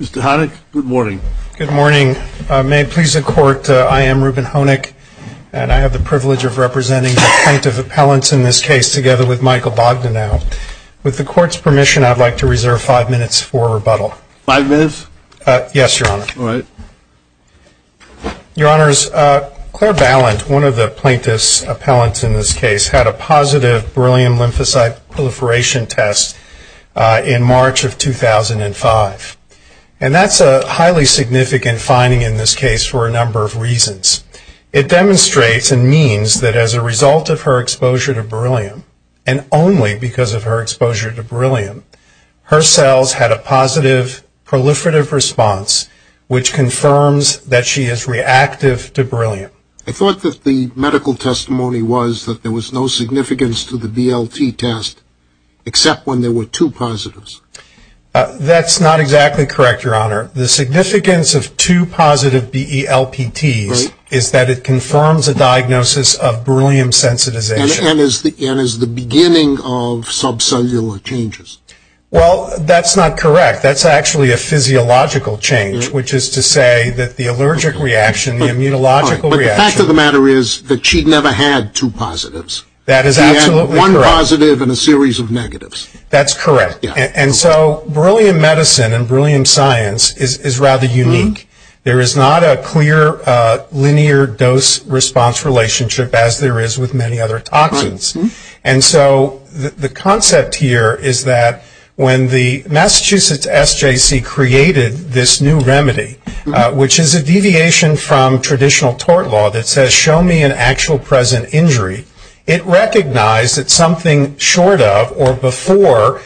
Mr. Honick, good morning. Good morning. May it please the court, I am Reuben Honick and I have the privilege of representing the plaintiff appellants in this case together with Michael Bogdanoff. With the court's permission, I'd like to reserve five minutes for rebuttal. Five minutes? Yes, your honor. Your honors, Claire Ballant, one of the plaintiff's appellants in this case, had a positive beryllium lymphocyte proliferation test in March of 2005. And that's a highly significant finding in this case for a number of reasons. It demonstrates and means that as a result of her exposure to beryllium, and only because of her exposure to beryllium, her cells had a positive proliferative response which confirms that she is reactive to beryllium. I thought that the medical testimony was that there was no significance to the BLT test except when there were two positives. That's not exactly correct, your honor. The significance of two positive BELPTs is that it confirms a diagnosis of beryllium sensitization. And is the beginning of subcellular changes? Well, that's not correct. That's actually a physiological change, which is to say that the allergic reaction, the immunological reaction But the fact of the matter is that she never had two positives. That is absolutely correct. She had one positive and a series of negatives. That's correct. And so beryllium medicine and beryllium science is rather unique. There is not a clear linear dose response relationship as there is with many other toxins. And so the concept here is that when the Massachusetts SJC created this new remedy, which is a deviation from traditional tort law that says show me an actual present injury, it recognized that something short of or before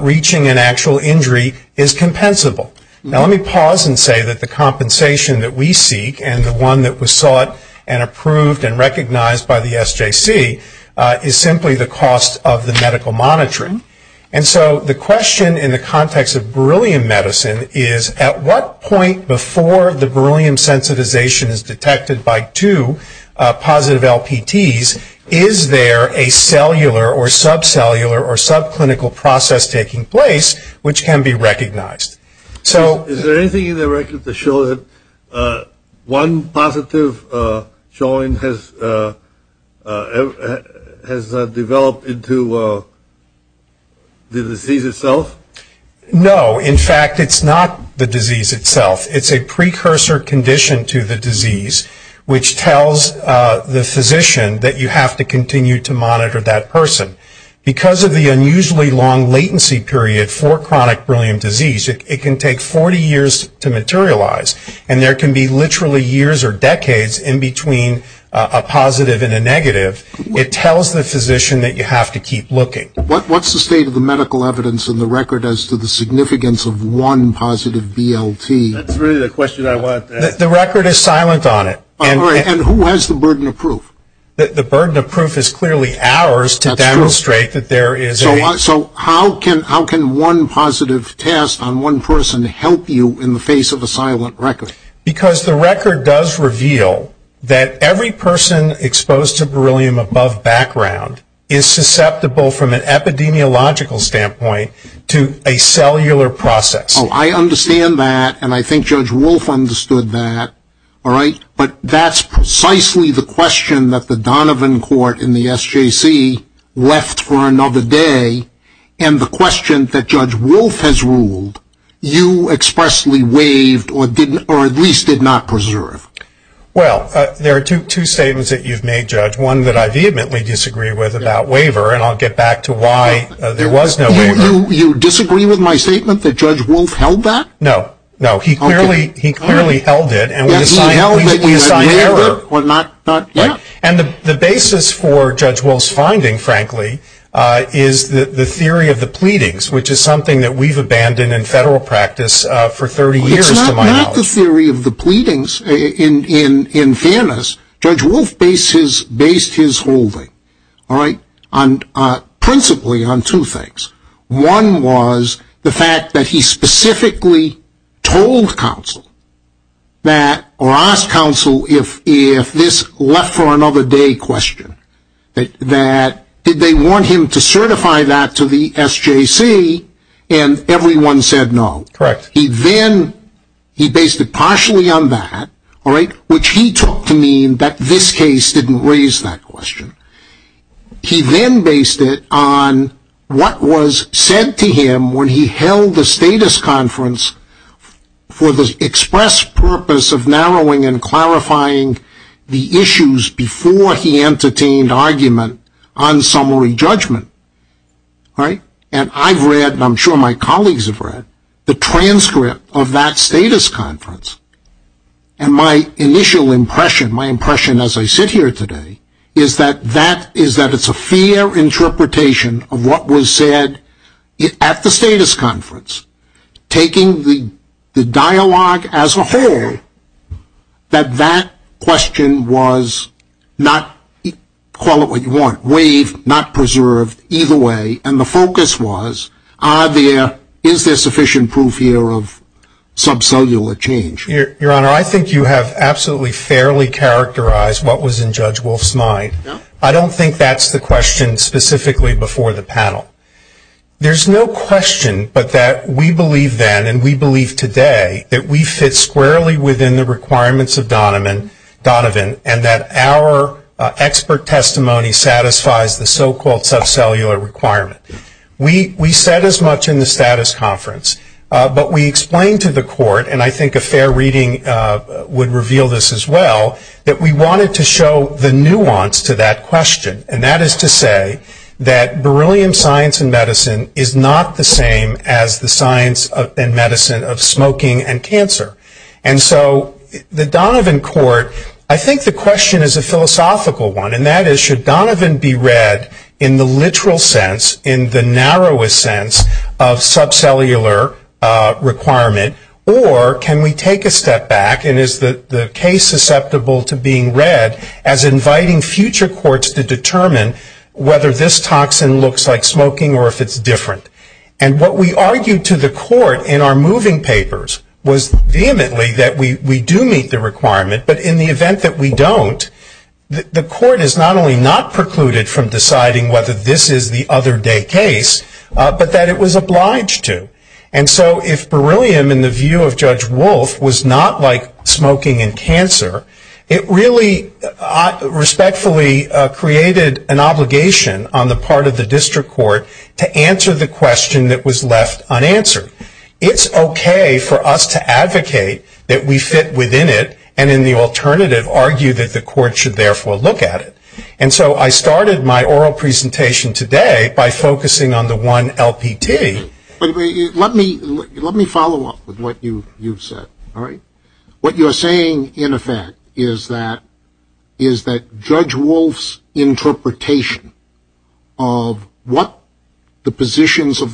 reaching an actual injury is compensable. Now let me pause and say that the compensation that we seek and the one that was sought and And so the question in the context of beryllium medicine is at what point before the beryllium sensitization is detected by two positive LPTs, is there a cellular or subcellular or subclinical process taking place which can be recognized? So is there anything in the record to show that one positive joint has developed into the disease itself? No. In fact it's not the disease itself. It's a precursor condition to the disease which tells the physician that you have to continue to monitor that person. Because of the unusually long latency period for chronic beryllium disease, it can take 40 years to materialize. And there can be literally years or decades in between a positive and a negative. It tells the physician that you have to keep looking. What's the state of the medical evidence in the record as to the significance of one positive BLT? That's really the question I wanted to ask. The record is silent on it. And who has the burden of proof? The burden of proof is clearly ours to demonstrate that there is a So how can one positive test on one person help you in the face of a silent record? Because the record does reveal that every person exposed to beryllium above background is susceptible from an epidemiological standpoint to a cellular process. I understand that. And I think Judge Wolf understood that. But that's precisely the question that the Donovan Court in the SJC left for another day. And the question that the Donovan Court at least did not preserve. Well, there are two statements that you've made, Judge. One that I vehemently disagree with about waiver. And I'll get back to why there was no waiver. You disagree with my statement that Judge Wolf held that? No. No. He clearly held it. And with a sign of error. And the basis for Judge Wolf's finding, frankly, is the theory of the pleadings, which is something Without the theory of the pleadings, in fairness, Judge Wolf based his holding principally on two things. One was the fact that he specifically told counsel, or asked counsel, if this left for another day question, that did they want him to certify that to the SJC, and everyone said no. He then, he based it partially on that, which he took to mean that this case didn't raise that question. He then based it on what was said to him when he held the status conference for the express purpose of narrowing and clarifying the issues before he entertained argument on summary judgment. And I've read, and I'm sure my colleagues have read, the transcript of that status conference. And my initial impression, my impression as I sit here today, is that that, is that it's a fair interpretation of what was said at the status conference, taking the dialogue as a whole, that that question was not, call it what you want, waived, not preserved, either way, and the focus was, are there, is there sufficient proof here of subcellular change? Your Honor, I think you have absolutely fairly characterized what was in Judge Wolf's mind. I don't think that's the question specifically before the panel. There's no question but that we believe then, and we believe today, that we fit squarely within the requirements of Donovan, and that our expert testimony satisfies the so-called subcellular requirement. We said as much in the status conference, but we explained to the Court, and I think a fair reading would reveal this as well, that we wanted to show the nuance to that question, and that is to say that beryllium science and medicine is not the same as the science and medicine of smoking and cancer. And so the Donovan Court, I think the question is a philosophical one, and that is, should Donovan be read in the literal sense, in the narrowest sense of subcellular requirement, or can we take a step back, and is the case susceptible to being read as inviting future courts to determine whether this toxin looks like smoking or if it's different? And what we argued to the Court in our moving papers was vehemently that we do meet the requirement, but in the event that we don't, the Court is not only not precluded from deciding whether this is the other day case, but that it was obliged to. And so if beryllium, in the view of Judge Wolf, was not like smoking and cancer, it really respectfully created an obligation on the part of the district court to answer the question that was left unanswered. It's okay for us to advocate that we fit within it and in the alternative argue that the Court should therefore look at it. And so I started my oral presentation today by focusing on the one LPT. Let me follow up with what you've said. What you're saying, in effect, is that Judge Wolf's position of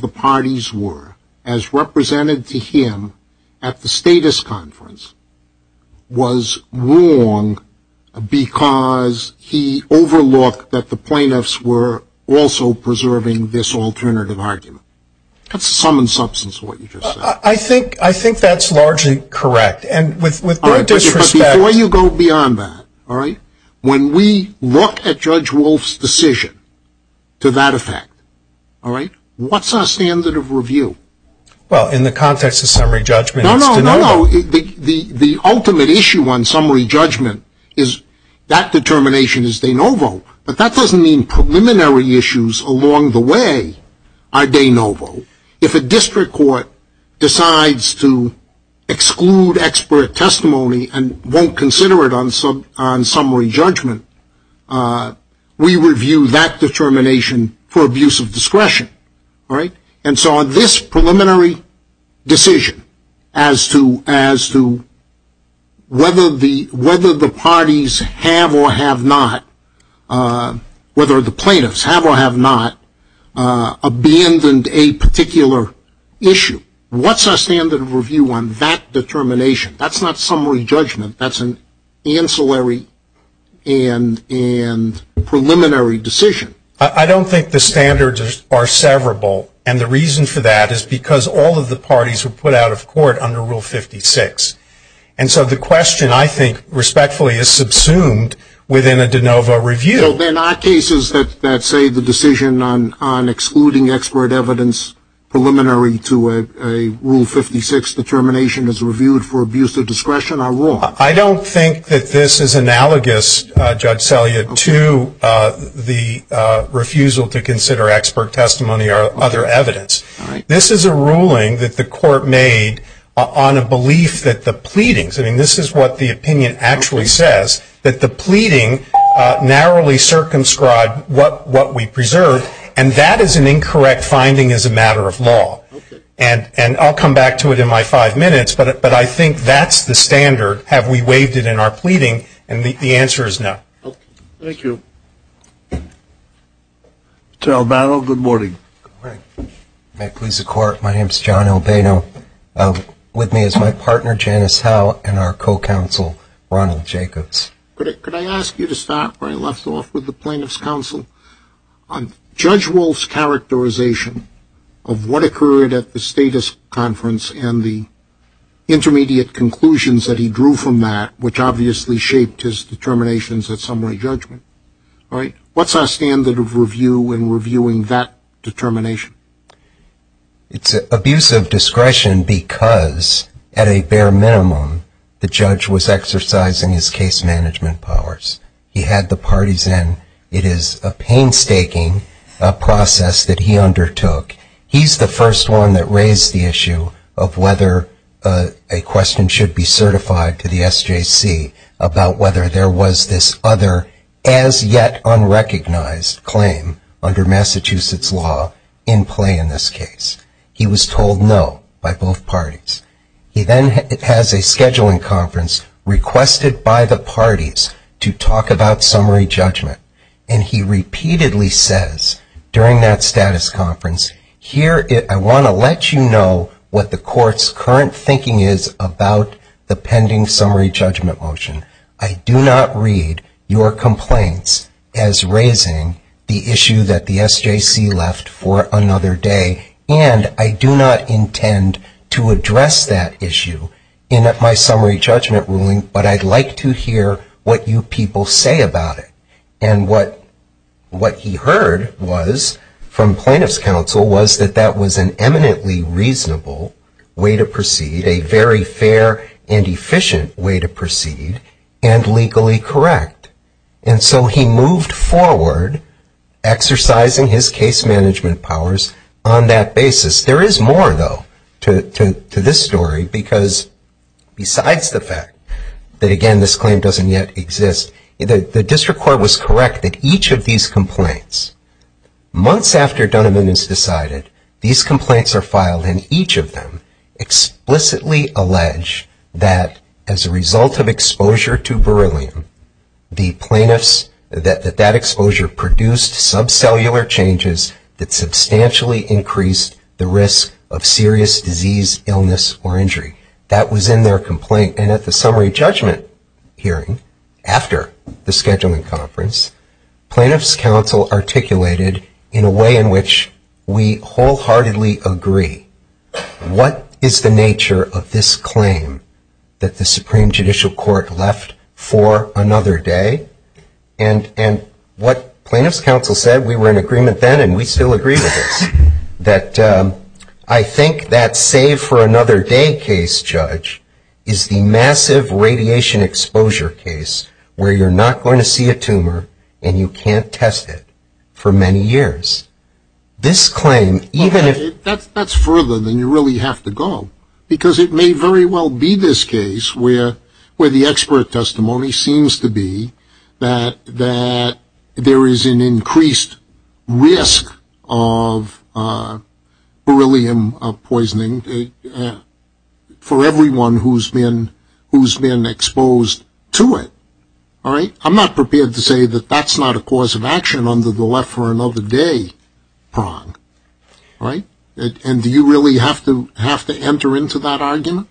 the parties were, as represented to him at the status conference, was wrong because he overlooked that the plaintiffs were also preserving this alternative argument. That's the sum and substance of what you just said. I think that's largely correct. And with due disrespect... But before you go beyond that, when we look at Judge Wolf's decision to that effect, what is our standard of review? Well, in the context of summary judgment, it's de novo. No, no, no. The ultimate issue on summary judgment is that determination is de novo. But that doesn't mean preliminary issues along the way are de novo. If a district court decides to exclude expert testimony and won't consider it on summary judgment, we review that determination for abuse of discretion. And so on this preliminary decision as to whether the parties have or have not, whether the plaintiffs have or have not, abandoned a particular issue, what's our standard of review on that determination? That's not summary judgment. That's an ancillary and preliminary decision. I don't think the standards are severable. And the reason for that is because all of the parties were put out of court under Rule 56. And so the question, I think, respectfully is subsumed within a de novo review. So then our cases that say the decision on excluding expert evidence preliminary to a Rule 56 determination is reviewed for abuse of discretion are wrong? I don't think that this is analogous, Judge Selya, to the refusal to consider expert testimony or other evidence. This is a ruling that the court made on a belief that the pleadings – I mean, this is what the opinion actually says – that the pleading narrowly circumscribed what we preserved. And that is an incorrect finding as a matter of law. And I'll come back to it in my five minutes, but I think that's the standard. Have we waived it in our pleading? And the answer is no. Thank you. Mr. Albano, good morning. Good morning. May it please the Court, my name is John Albano. With me is my partner, Janice Howe, and our co-counsel, Ronald Jacobs. Could I ask you to start where I left off with the plaintiff's counsel? On Judge Wolf's characterization of what occurred at the Status Conference and the intermediate conclusions that he drew from that, which obviously shaped his determinations at summary judgment. What's our standard of review in reviewing that determination? It's abuse of discretion because, at a bare minimum, the judge was exercising his case that he undertook. He's the first one that raised the issue of whether a question should be certified to the SJC about whether there was this other, as yet unrecognized, claim under Massachusetts law in play in this case. He was told no by both parties. He then has a scheduling conference requested by the parties to talk about summary judgment. And he repeatedly says during that Status Conference, I want to let you know what the Court's current thinking is about the pending summary judgment motion. I do not read your complaints as raising the issue that the SJC left for another day, and I do not intend to address that issue in my What we heard from plaintiff's counsel was that that was an eminently reasonable way to proceed, a very fair and efficient way to proceed, and legally correct. And so he moved forward, exercising his case management powers on that basis. There is more, though, to this story because, besides the fact that, again, this claim doesn't yet exist, the District of Columbia has not yet filed these complaints. Months after Dunn and Moon has decided, these complaints are filed, and each of them explicitly allege that, as a result of exposure to beryllium, the plaintiffs, that that exposure produced subcellular changes that substantially increased the risk of serious disease, illness, or injury. That was in their complaint, and at the summary judgment hearing, after the scheduling conference, plaintiff's counsel articulated, in a way in which we wholeheartedly agree, what is the nature of this claim that the Supreme Judicial Court left for another day? And what plaintiff's counsel said, we were in agreement then and we still agree with this, that I think that save for another day case judge is the massive radiation exposure case where you're not going to see a tumor, and you can't test it for many years. This claim, even if... That's further than you really have to go, because it may very well be this case where the expert testimony seems to be that there is an increased risk of beryllium poisoning for everyone who's been exposed to it. I'm not prepared to say that that's not a cause of action under the left for another day prong. And do you really have to enter into that argument?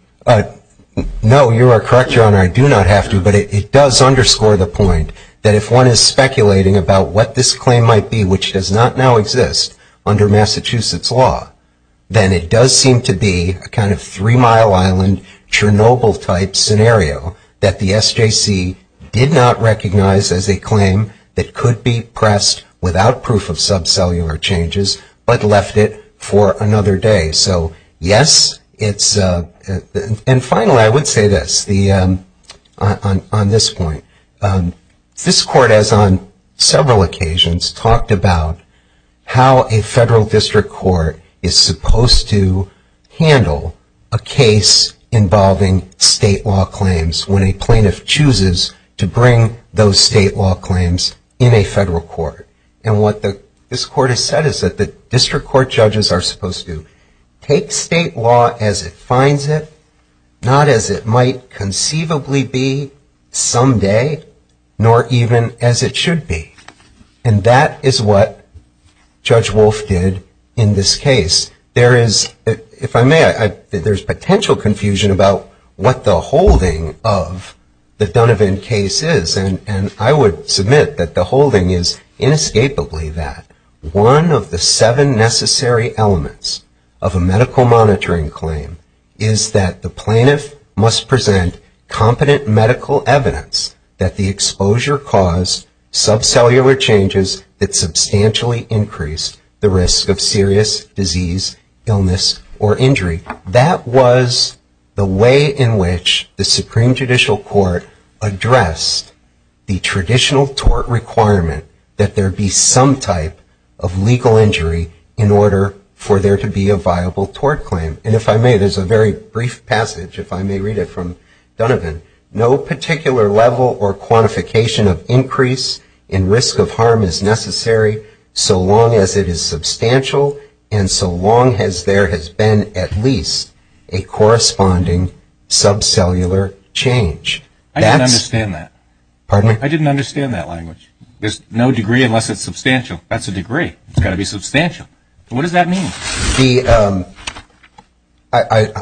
No, you are correct, Your Honor. I do not have to, but it does underscore the point that if one is speculating about what this claim might be, which does not now exist under Massachusetts law, then it does seem to be a kind of Three Mile Island, Chernobyl type scenario that the SJC did not recognize as a claim that could be pressed without proof of subcellular changes, but left it for another day. So yes, it's... And finally, I would say this on this point. This Court has on several occasions talked about how a federal district court is supposed to handle a case involving state law claims when a plaintiff chooses to bring those state law claims in a federal court. And what this Court has said is that the district court judges are supposed to take state law as it finds it, not as it might conceivably be someday, nor even as it should be. And that is why what Judge Wolf did in this case. There is, if I may, there is potential confusion about what the holding of the Donovan case is. And I would submit that the holding is inescapably that. One of the seven necessary elements of a medical monitoring claim is that the plaintiff must present competent medical evidence that the exposure caused subcellular changes that substantially increased the risk of serious disease, illness, or injury. That was the way in which the Supreme Judicial Court addressed the traditional tort requirement that there be some type of legal injury in order for there to be a viable tort claim. And if I may, there's a very brief passage, if I may read it from Donovan. No particular level or quantification of increase in risk of harm is necessary so long as it is substantial and so long as there has been at least a corresponding subcellular change. I didn't understand that. Pardon me? I didn't understand that language. There's no degree unless it's substantial. That's a degree. It's got to be substantial. What does that mean? I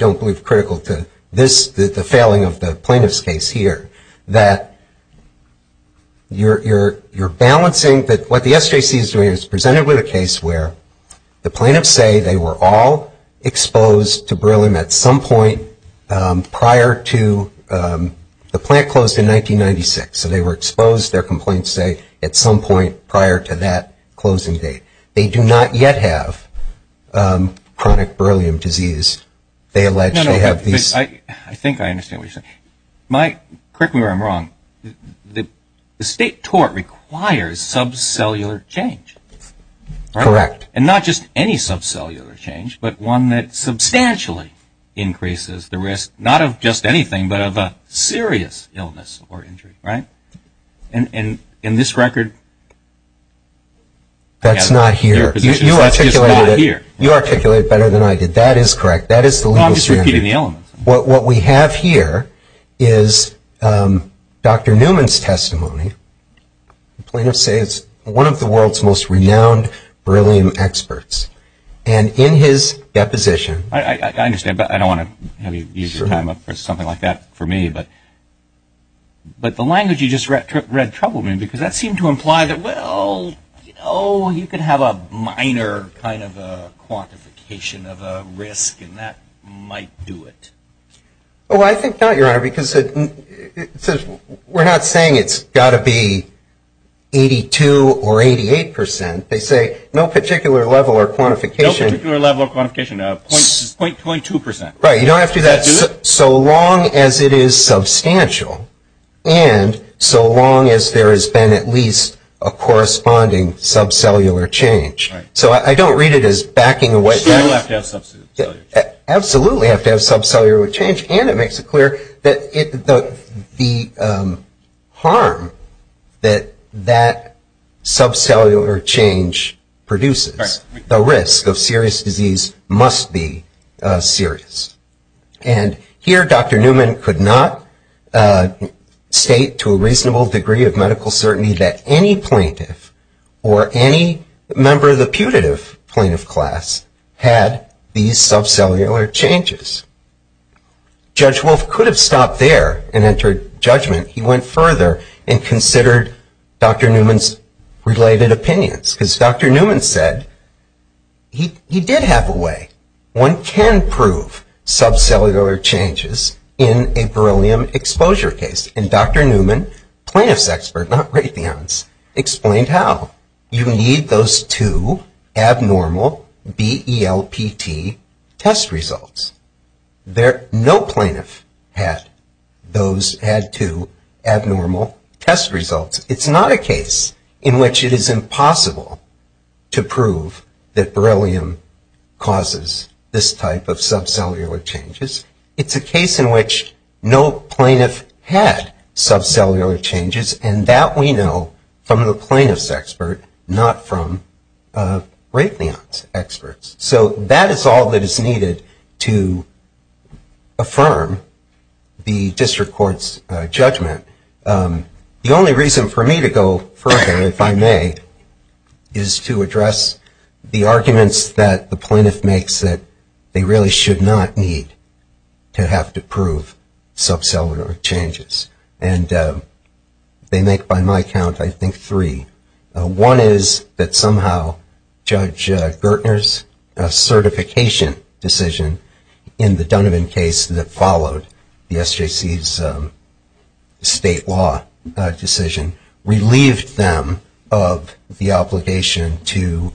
don't believe critical to this, the failing of the plaintiff's case here. That you're balancing that what the SJC is doing is presented with a case where the plaintiffs say they were all exposed to beryllium at some point prior to the plant closed in 1996. So they were exposed, their complaints say, at some point prior to that closing date. They do not yet have chronic beryllium disease. They allege they have these... I think I understand what you're saying. Correct me if I'm wrong, the state tort requires subcellular change. Correct. And not just any subcellular change, but one that substantially increases the risk, not of just anything, but of a serious illness or injury, right? And in this record... That's not here. You articulated it. You articulated it better than I did. That is correct. That is the legal standard. I'm just repeating the elements. What we have here is Dr. Newman's testimony. The plaintiffs say it's one of the world's most renowned beryllium experts. And in his deposition... I understand, but I don't want to have you use your time up for something like that for me. But the language you just read trouble me, because that seemed to imply that, well, you could have a minor kind of a quantification of a risk, and that might do it. Well, I think not, Your Honor, because we're not saying it's got to be 82 or 88 percent. They say no particular level or quantification... No particular level or quantification, 0.2 percent. Right. You don't have to do that. So long as it is substantial, and so long as there has been at least a corresponding subcellular change. Right. So I don't read it as backing away... Still have to have subcellular change. Absolutely have to have subcellular change, and it makes it clear that the harm that that subcellular change produces... Right. The risk of serious disease must be serious. And here Dr. Newman could not state to a reasonable degree of medical certainty that any plaintiff or any member of the putative plaintiff class had these subcellular changes. Judge Wolf could have stopped there and entered judgment. He went further and considered Dr. Newman said he did have a way. One can prove subcellular changes in a beryllium exposure case, and Dr. Newman, plaintiff's expert, not Raytheon's, explained how. You need those two abnormal BELPT test results. No plaintiff had those two abnormal test results. It's not a case in which it is impossible to prove that beryllium causes this type of subcellular changes. It's a case in which no plaintiff had subcellular changes, and that we know from the plaintiff's expert, not from Raytheon's experts. So that is all that is needed to affirm the district court's judgment. The only reason for me to go further, if I may, is to address the arguments that the plaintiff makes that they really should not need to have to prove subcellular changes. And they make, by my count, I think three. One is that somehow Judge Gertner's certification decision in the Dunnevin case that followed the SJC's state law decision relieved them of the obligation to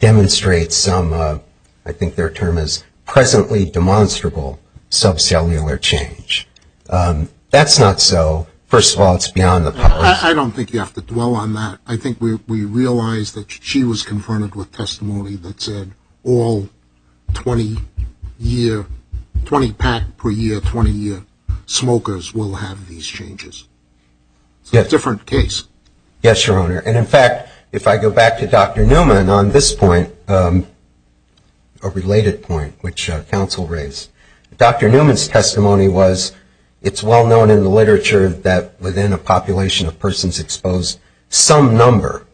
demonstrate some, I think their term is presently demonstrable, subcellular change. That's not so. First of all, it's beyond the power of the district court. I don't think you have to dwell on that. I think we realize that she was confronted with testimony that said all 20 year, 20 pack per year, 20 year smokers will have these changes. It's a different case. Yes, Your Honor. And in fact, if I go back to Dr. Newman on this point, a related point which counsel raised, Dr. Newman's testimony was it's well known in the literature that within a population of persons exposed, some number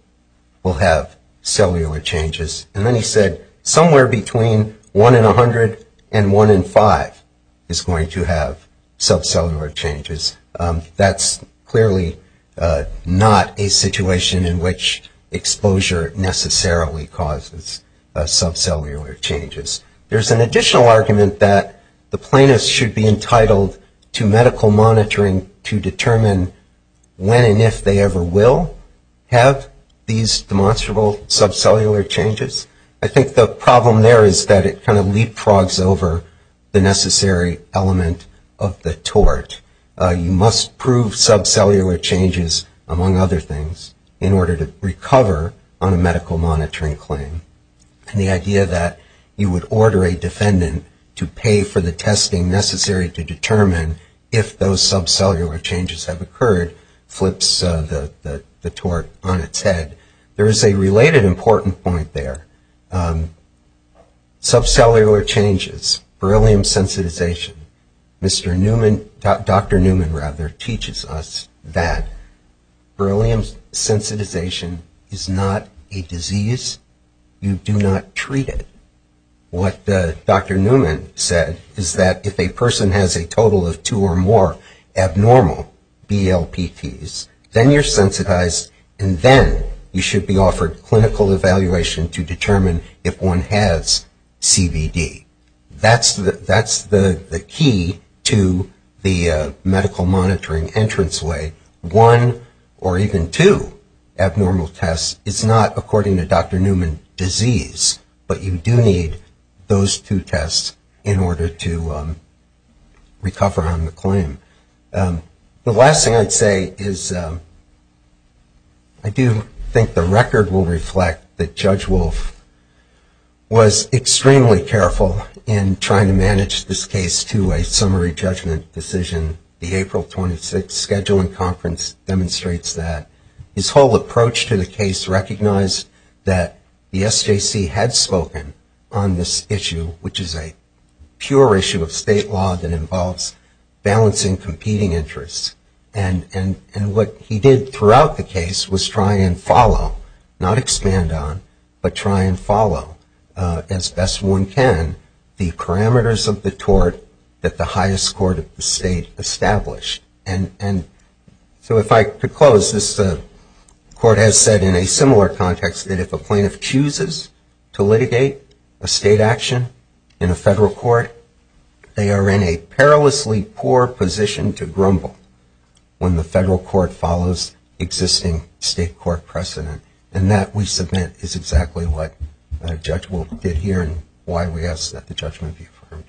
will have cellular changes. And then he said somewhere between 1 in 100 and 1 in 5 is going to have subcellular changes. That's clearly not a situation in which exposure necessarily causes subcellular changes. There's an additional argument that the plaintiffs should be entitled to medical monitoring to determine when and if they ever will have these demonstrable subcellular changes. I think the problem there is that it kind of leapfrogs over the necessary element of the tort. You must prove subcellular changes, among other things, in order to recover on a medical monitoring claim. And the idea that you would order a defendant to pay for the medical monitoring claim, and then the fact that subcellular changes have occurred, flips the tort on its head. There is a related important point there. Subcellular changes, beryllium sensitization. Dr. Newman, rather, teaches us that beryllium sensitization is not a disease. You do not treat it. What Dr. Newman said is that if you have BLPTs, then you're sensitized, and then you should be offered clinical evaluation to determine if one has CBD. That's the key to the medical monitoring entranceway. One or even two abnormal tests is not, according to Dr. Newman, disease. But you do need those two tests in order to recover on the claim. The last thing I'd say is I do think the record will reflect that Judge Wolf was extremely careful in trying to manage this case to a summary judgment decision. The April 26 scheduling conference demonstrates that. His whole approach to the case recognized that the SJC had spoken on this issue, which is a pure issue of state law that involves balancing competing interests. What he did throughout the case was try and follow, not expand on, but try and follow, as best one can, the parameters of the tort that the highest court of the state established. And so if I could close, this court has said in a similar context that if a plaintiff chooses to litigate a state action in a federal court, they are in a perilously poor position to grumble when the federal court follows existing state court precedent. And that, we submit, is exactly what Judge Wolf did here and why we ask that the judgment be affirmed.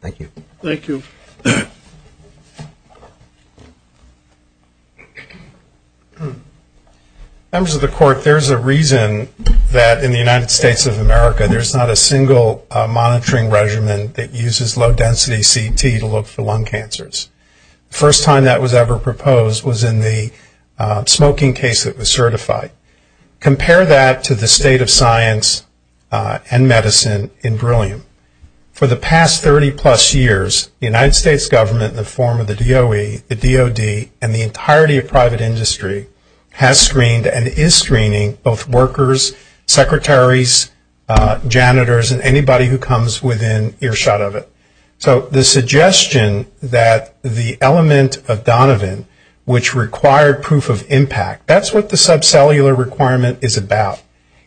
Thank you. Thank you. Members of the court, there's a reason that in the United States of America there's not a single monitoring regimen that uses low density CT to look for lung cancers. The first time that was ever proposed was in the smoking case that was certified. Compare that to the past 30 plus years, the United States government in the form of the DOE, the DOD, and the entirety of private industry has screened and is screening both workers, secretaries, janitors, and anybody who comes within earshot of it. So the suggestion that the element of Donovan, which required proof of impact, that's what the subcellular requirement is about.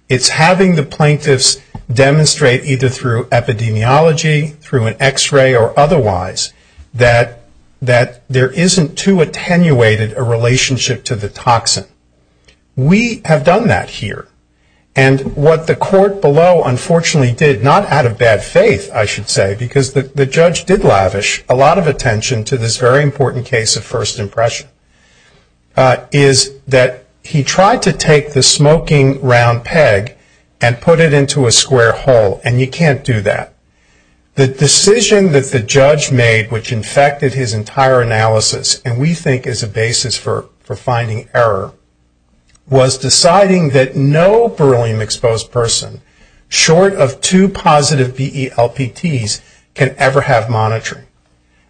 It's having the plaintiffs demonstrate either through epidemiology, through an x-ray, or otherwise, that there isn't too attenuated a relationship to the toxin. We have done that here. And what the court below unfortunately did, not out of bad faith, I should say, because the judge did lavish a lot of attention to this very important case of first impression, is that he tried to take the smoking round peg and put it into a square hole, and you can't do that. The decision that the judge made, which infected his entire analysis, and we think is a basis for finding error, was deciding that no beryllium exposed person, short of two positive BELPTs, can ever have monitoring.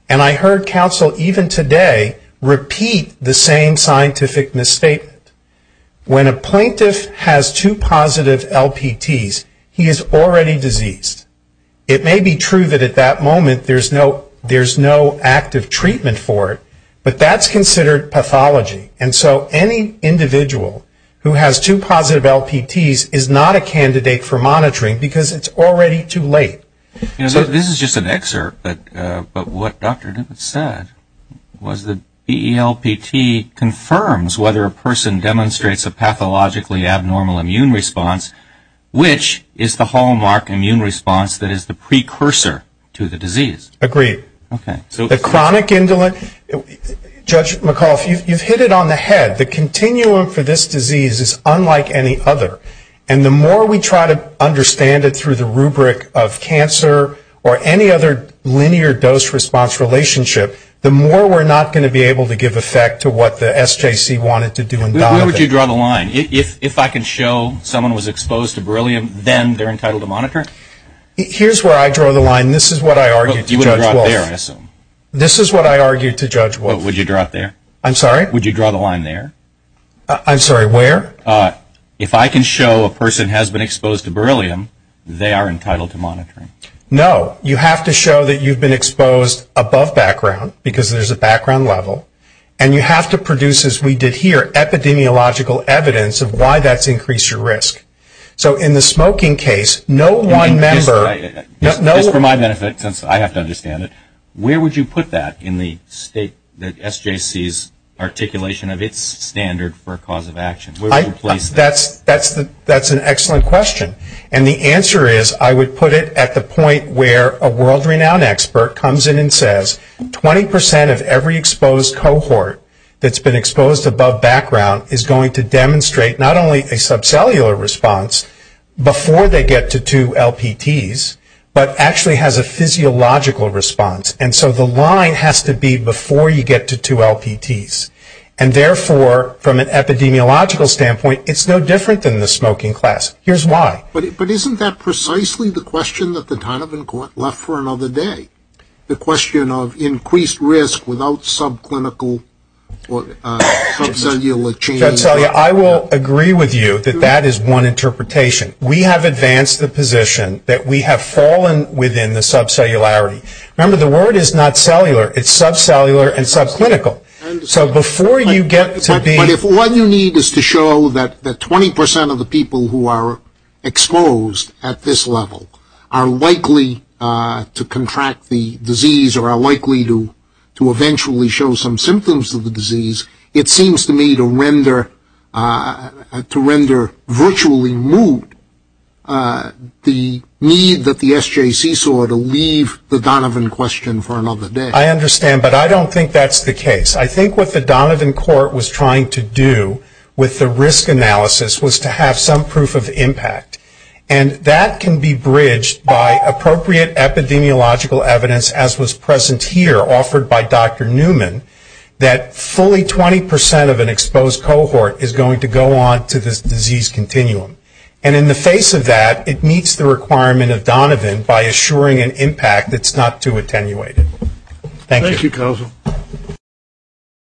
And I heard counsel even today repeat the same scientific misstatement. When a plaintiff has two positive LPTs, he is already diseased. It may be true that at that moment there's no active treatment for it, but that's considered pathology. And so any individual who has two positive LPTs is not a candidate for monitoring, because it's already too late. Dr. Breshears You know, this is just an excerpt, but what Dr. Dibbitt said was that BELPT confirms whether a person demonstrates a pathologically abnormal immune response, which is the hallmark immune response that is the precursor to the Judge McAuliffe I agree. The chronic indolence, Judge McAuliffe, you've hit it on the head. The continuum for this disease is unlike any other, and the more we try to understand it through the rubric of cancer or any other linear dose response relationship, the more we're not going to be able to give effect to what the SJC wanted to do in dialing it. Dr. Breshears Where would you draw the line? If I can show someone was exposed to beryllium, then they're entitled to monitor? Dr. Dibbitt Here's where I draw the line. This is what I argue to Judge Wolf. Dr. Breshears You would draw it there, I assume. Dr. Dibbitt This is what I argue to Judge Wolf. Dr. Breshears Would you draw it there? Dr. Dibbitt I'm sorry? Dr. Breshears Would you draw the line there? Dr. Dibbitt I'm sorry, where? Dr. Breshears If I can show a person has been exposed to beryllium, they are entitled to monitoring. Dr. Dibbitt No. You have to show that you've been exposed above background, because there's a background level, and you have to produce, as we did here, epidemiological evidence of why that's increased your risk. So in the smoking case, no one member... Dr. Breshears Just for my benefit, since I have to understand it, where would you put that in the state, the SJC's articulation of its standard for a cause of action? The answer is, I would put it at the point where a world-renowned expert comes in and says 20% of every exposed cohort that's been exposed above background is going to demonstrate not only a subcellular response before they get to two LPTs, but actually has a physiological response. And so the line has to be before you get to two LPTs. And therefore, from an epidemiological standpoint, it's no different than the smoking class. Here's why. Dr. Dibbitt But isn't that precisely the question that the Donovan Court left for another day? The question of increased risk without subclinical or subcellular changes? Dr. Breshears I will agree with you that that is one interpretation. We have advanced the position that we have fallen within the subcellularity. Remember, the word is not cellular. It's subcellular and subclinical. So before you get to be... Dr. Dibbitt But if all you need is to show that 20% of the people who are exposed at this level are likely to contract the disease or are likely to eventually show some symptoms of the disease, it seems to me to render virtually moot the need that the SJC saw to leave the Donovan question for another day. Dr. Breshears I understand, but I don't think that's the some proof of impact. And that can be bridged by appropriate epidemiological evidence as was present here, offered by Dr. Newman, that fully 20% of an exposed cohort is going to go on to this disease continuum. And in the face of that, it meets the requirement of Donovan by assuring an impact that's not too attenuated. Thank you. Dr. Dibbitt Thank you, counsel.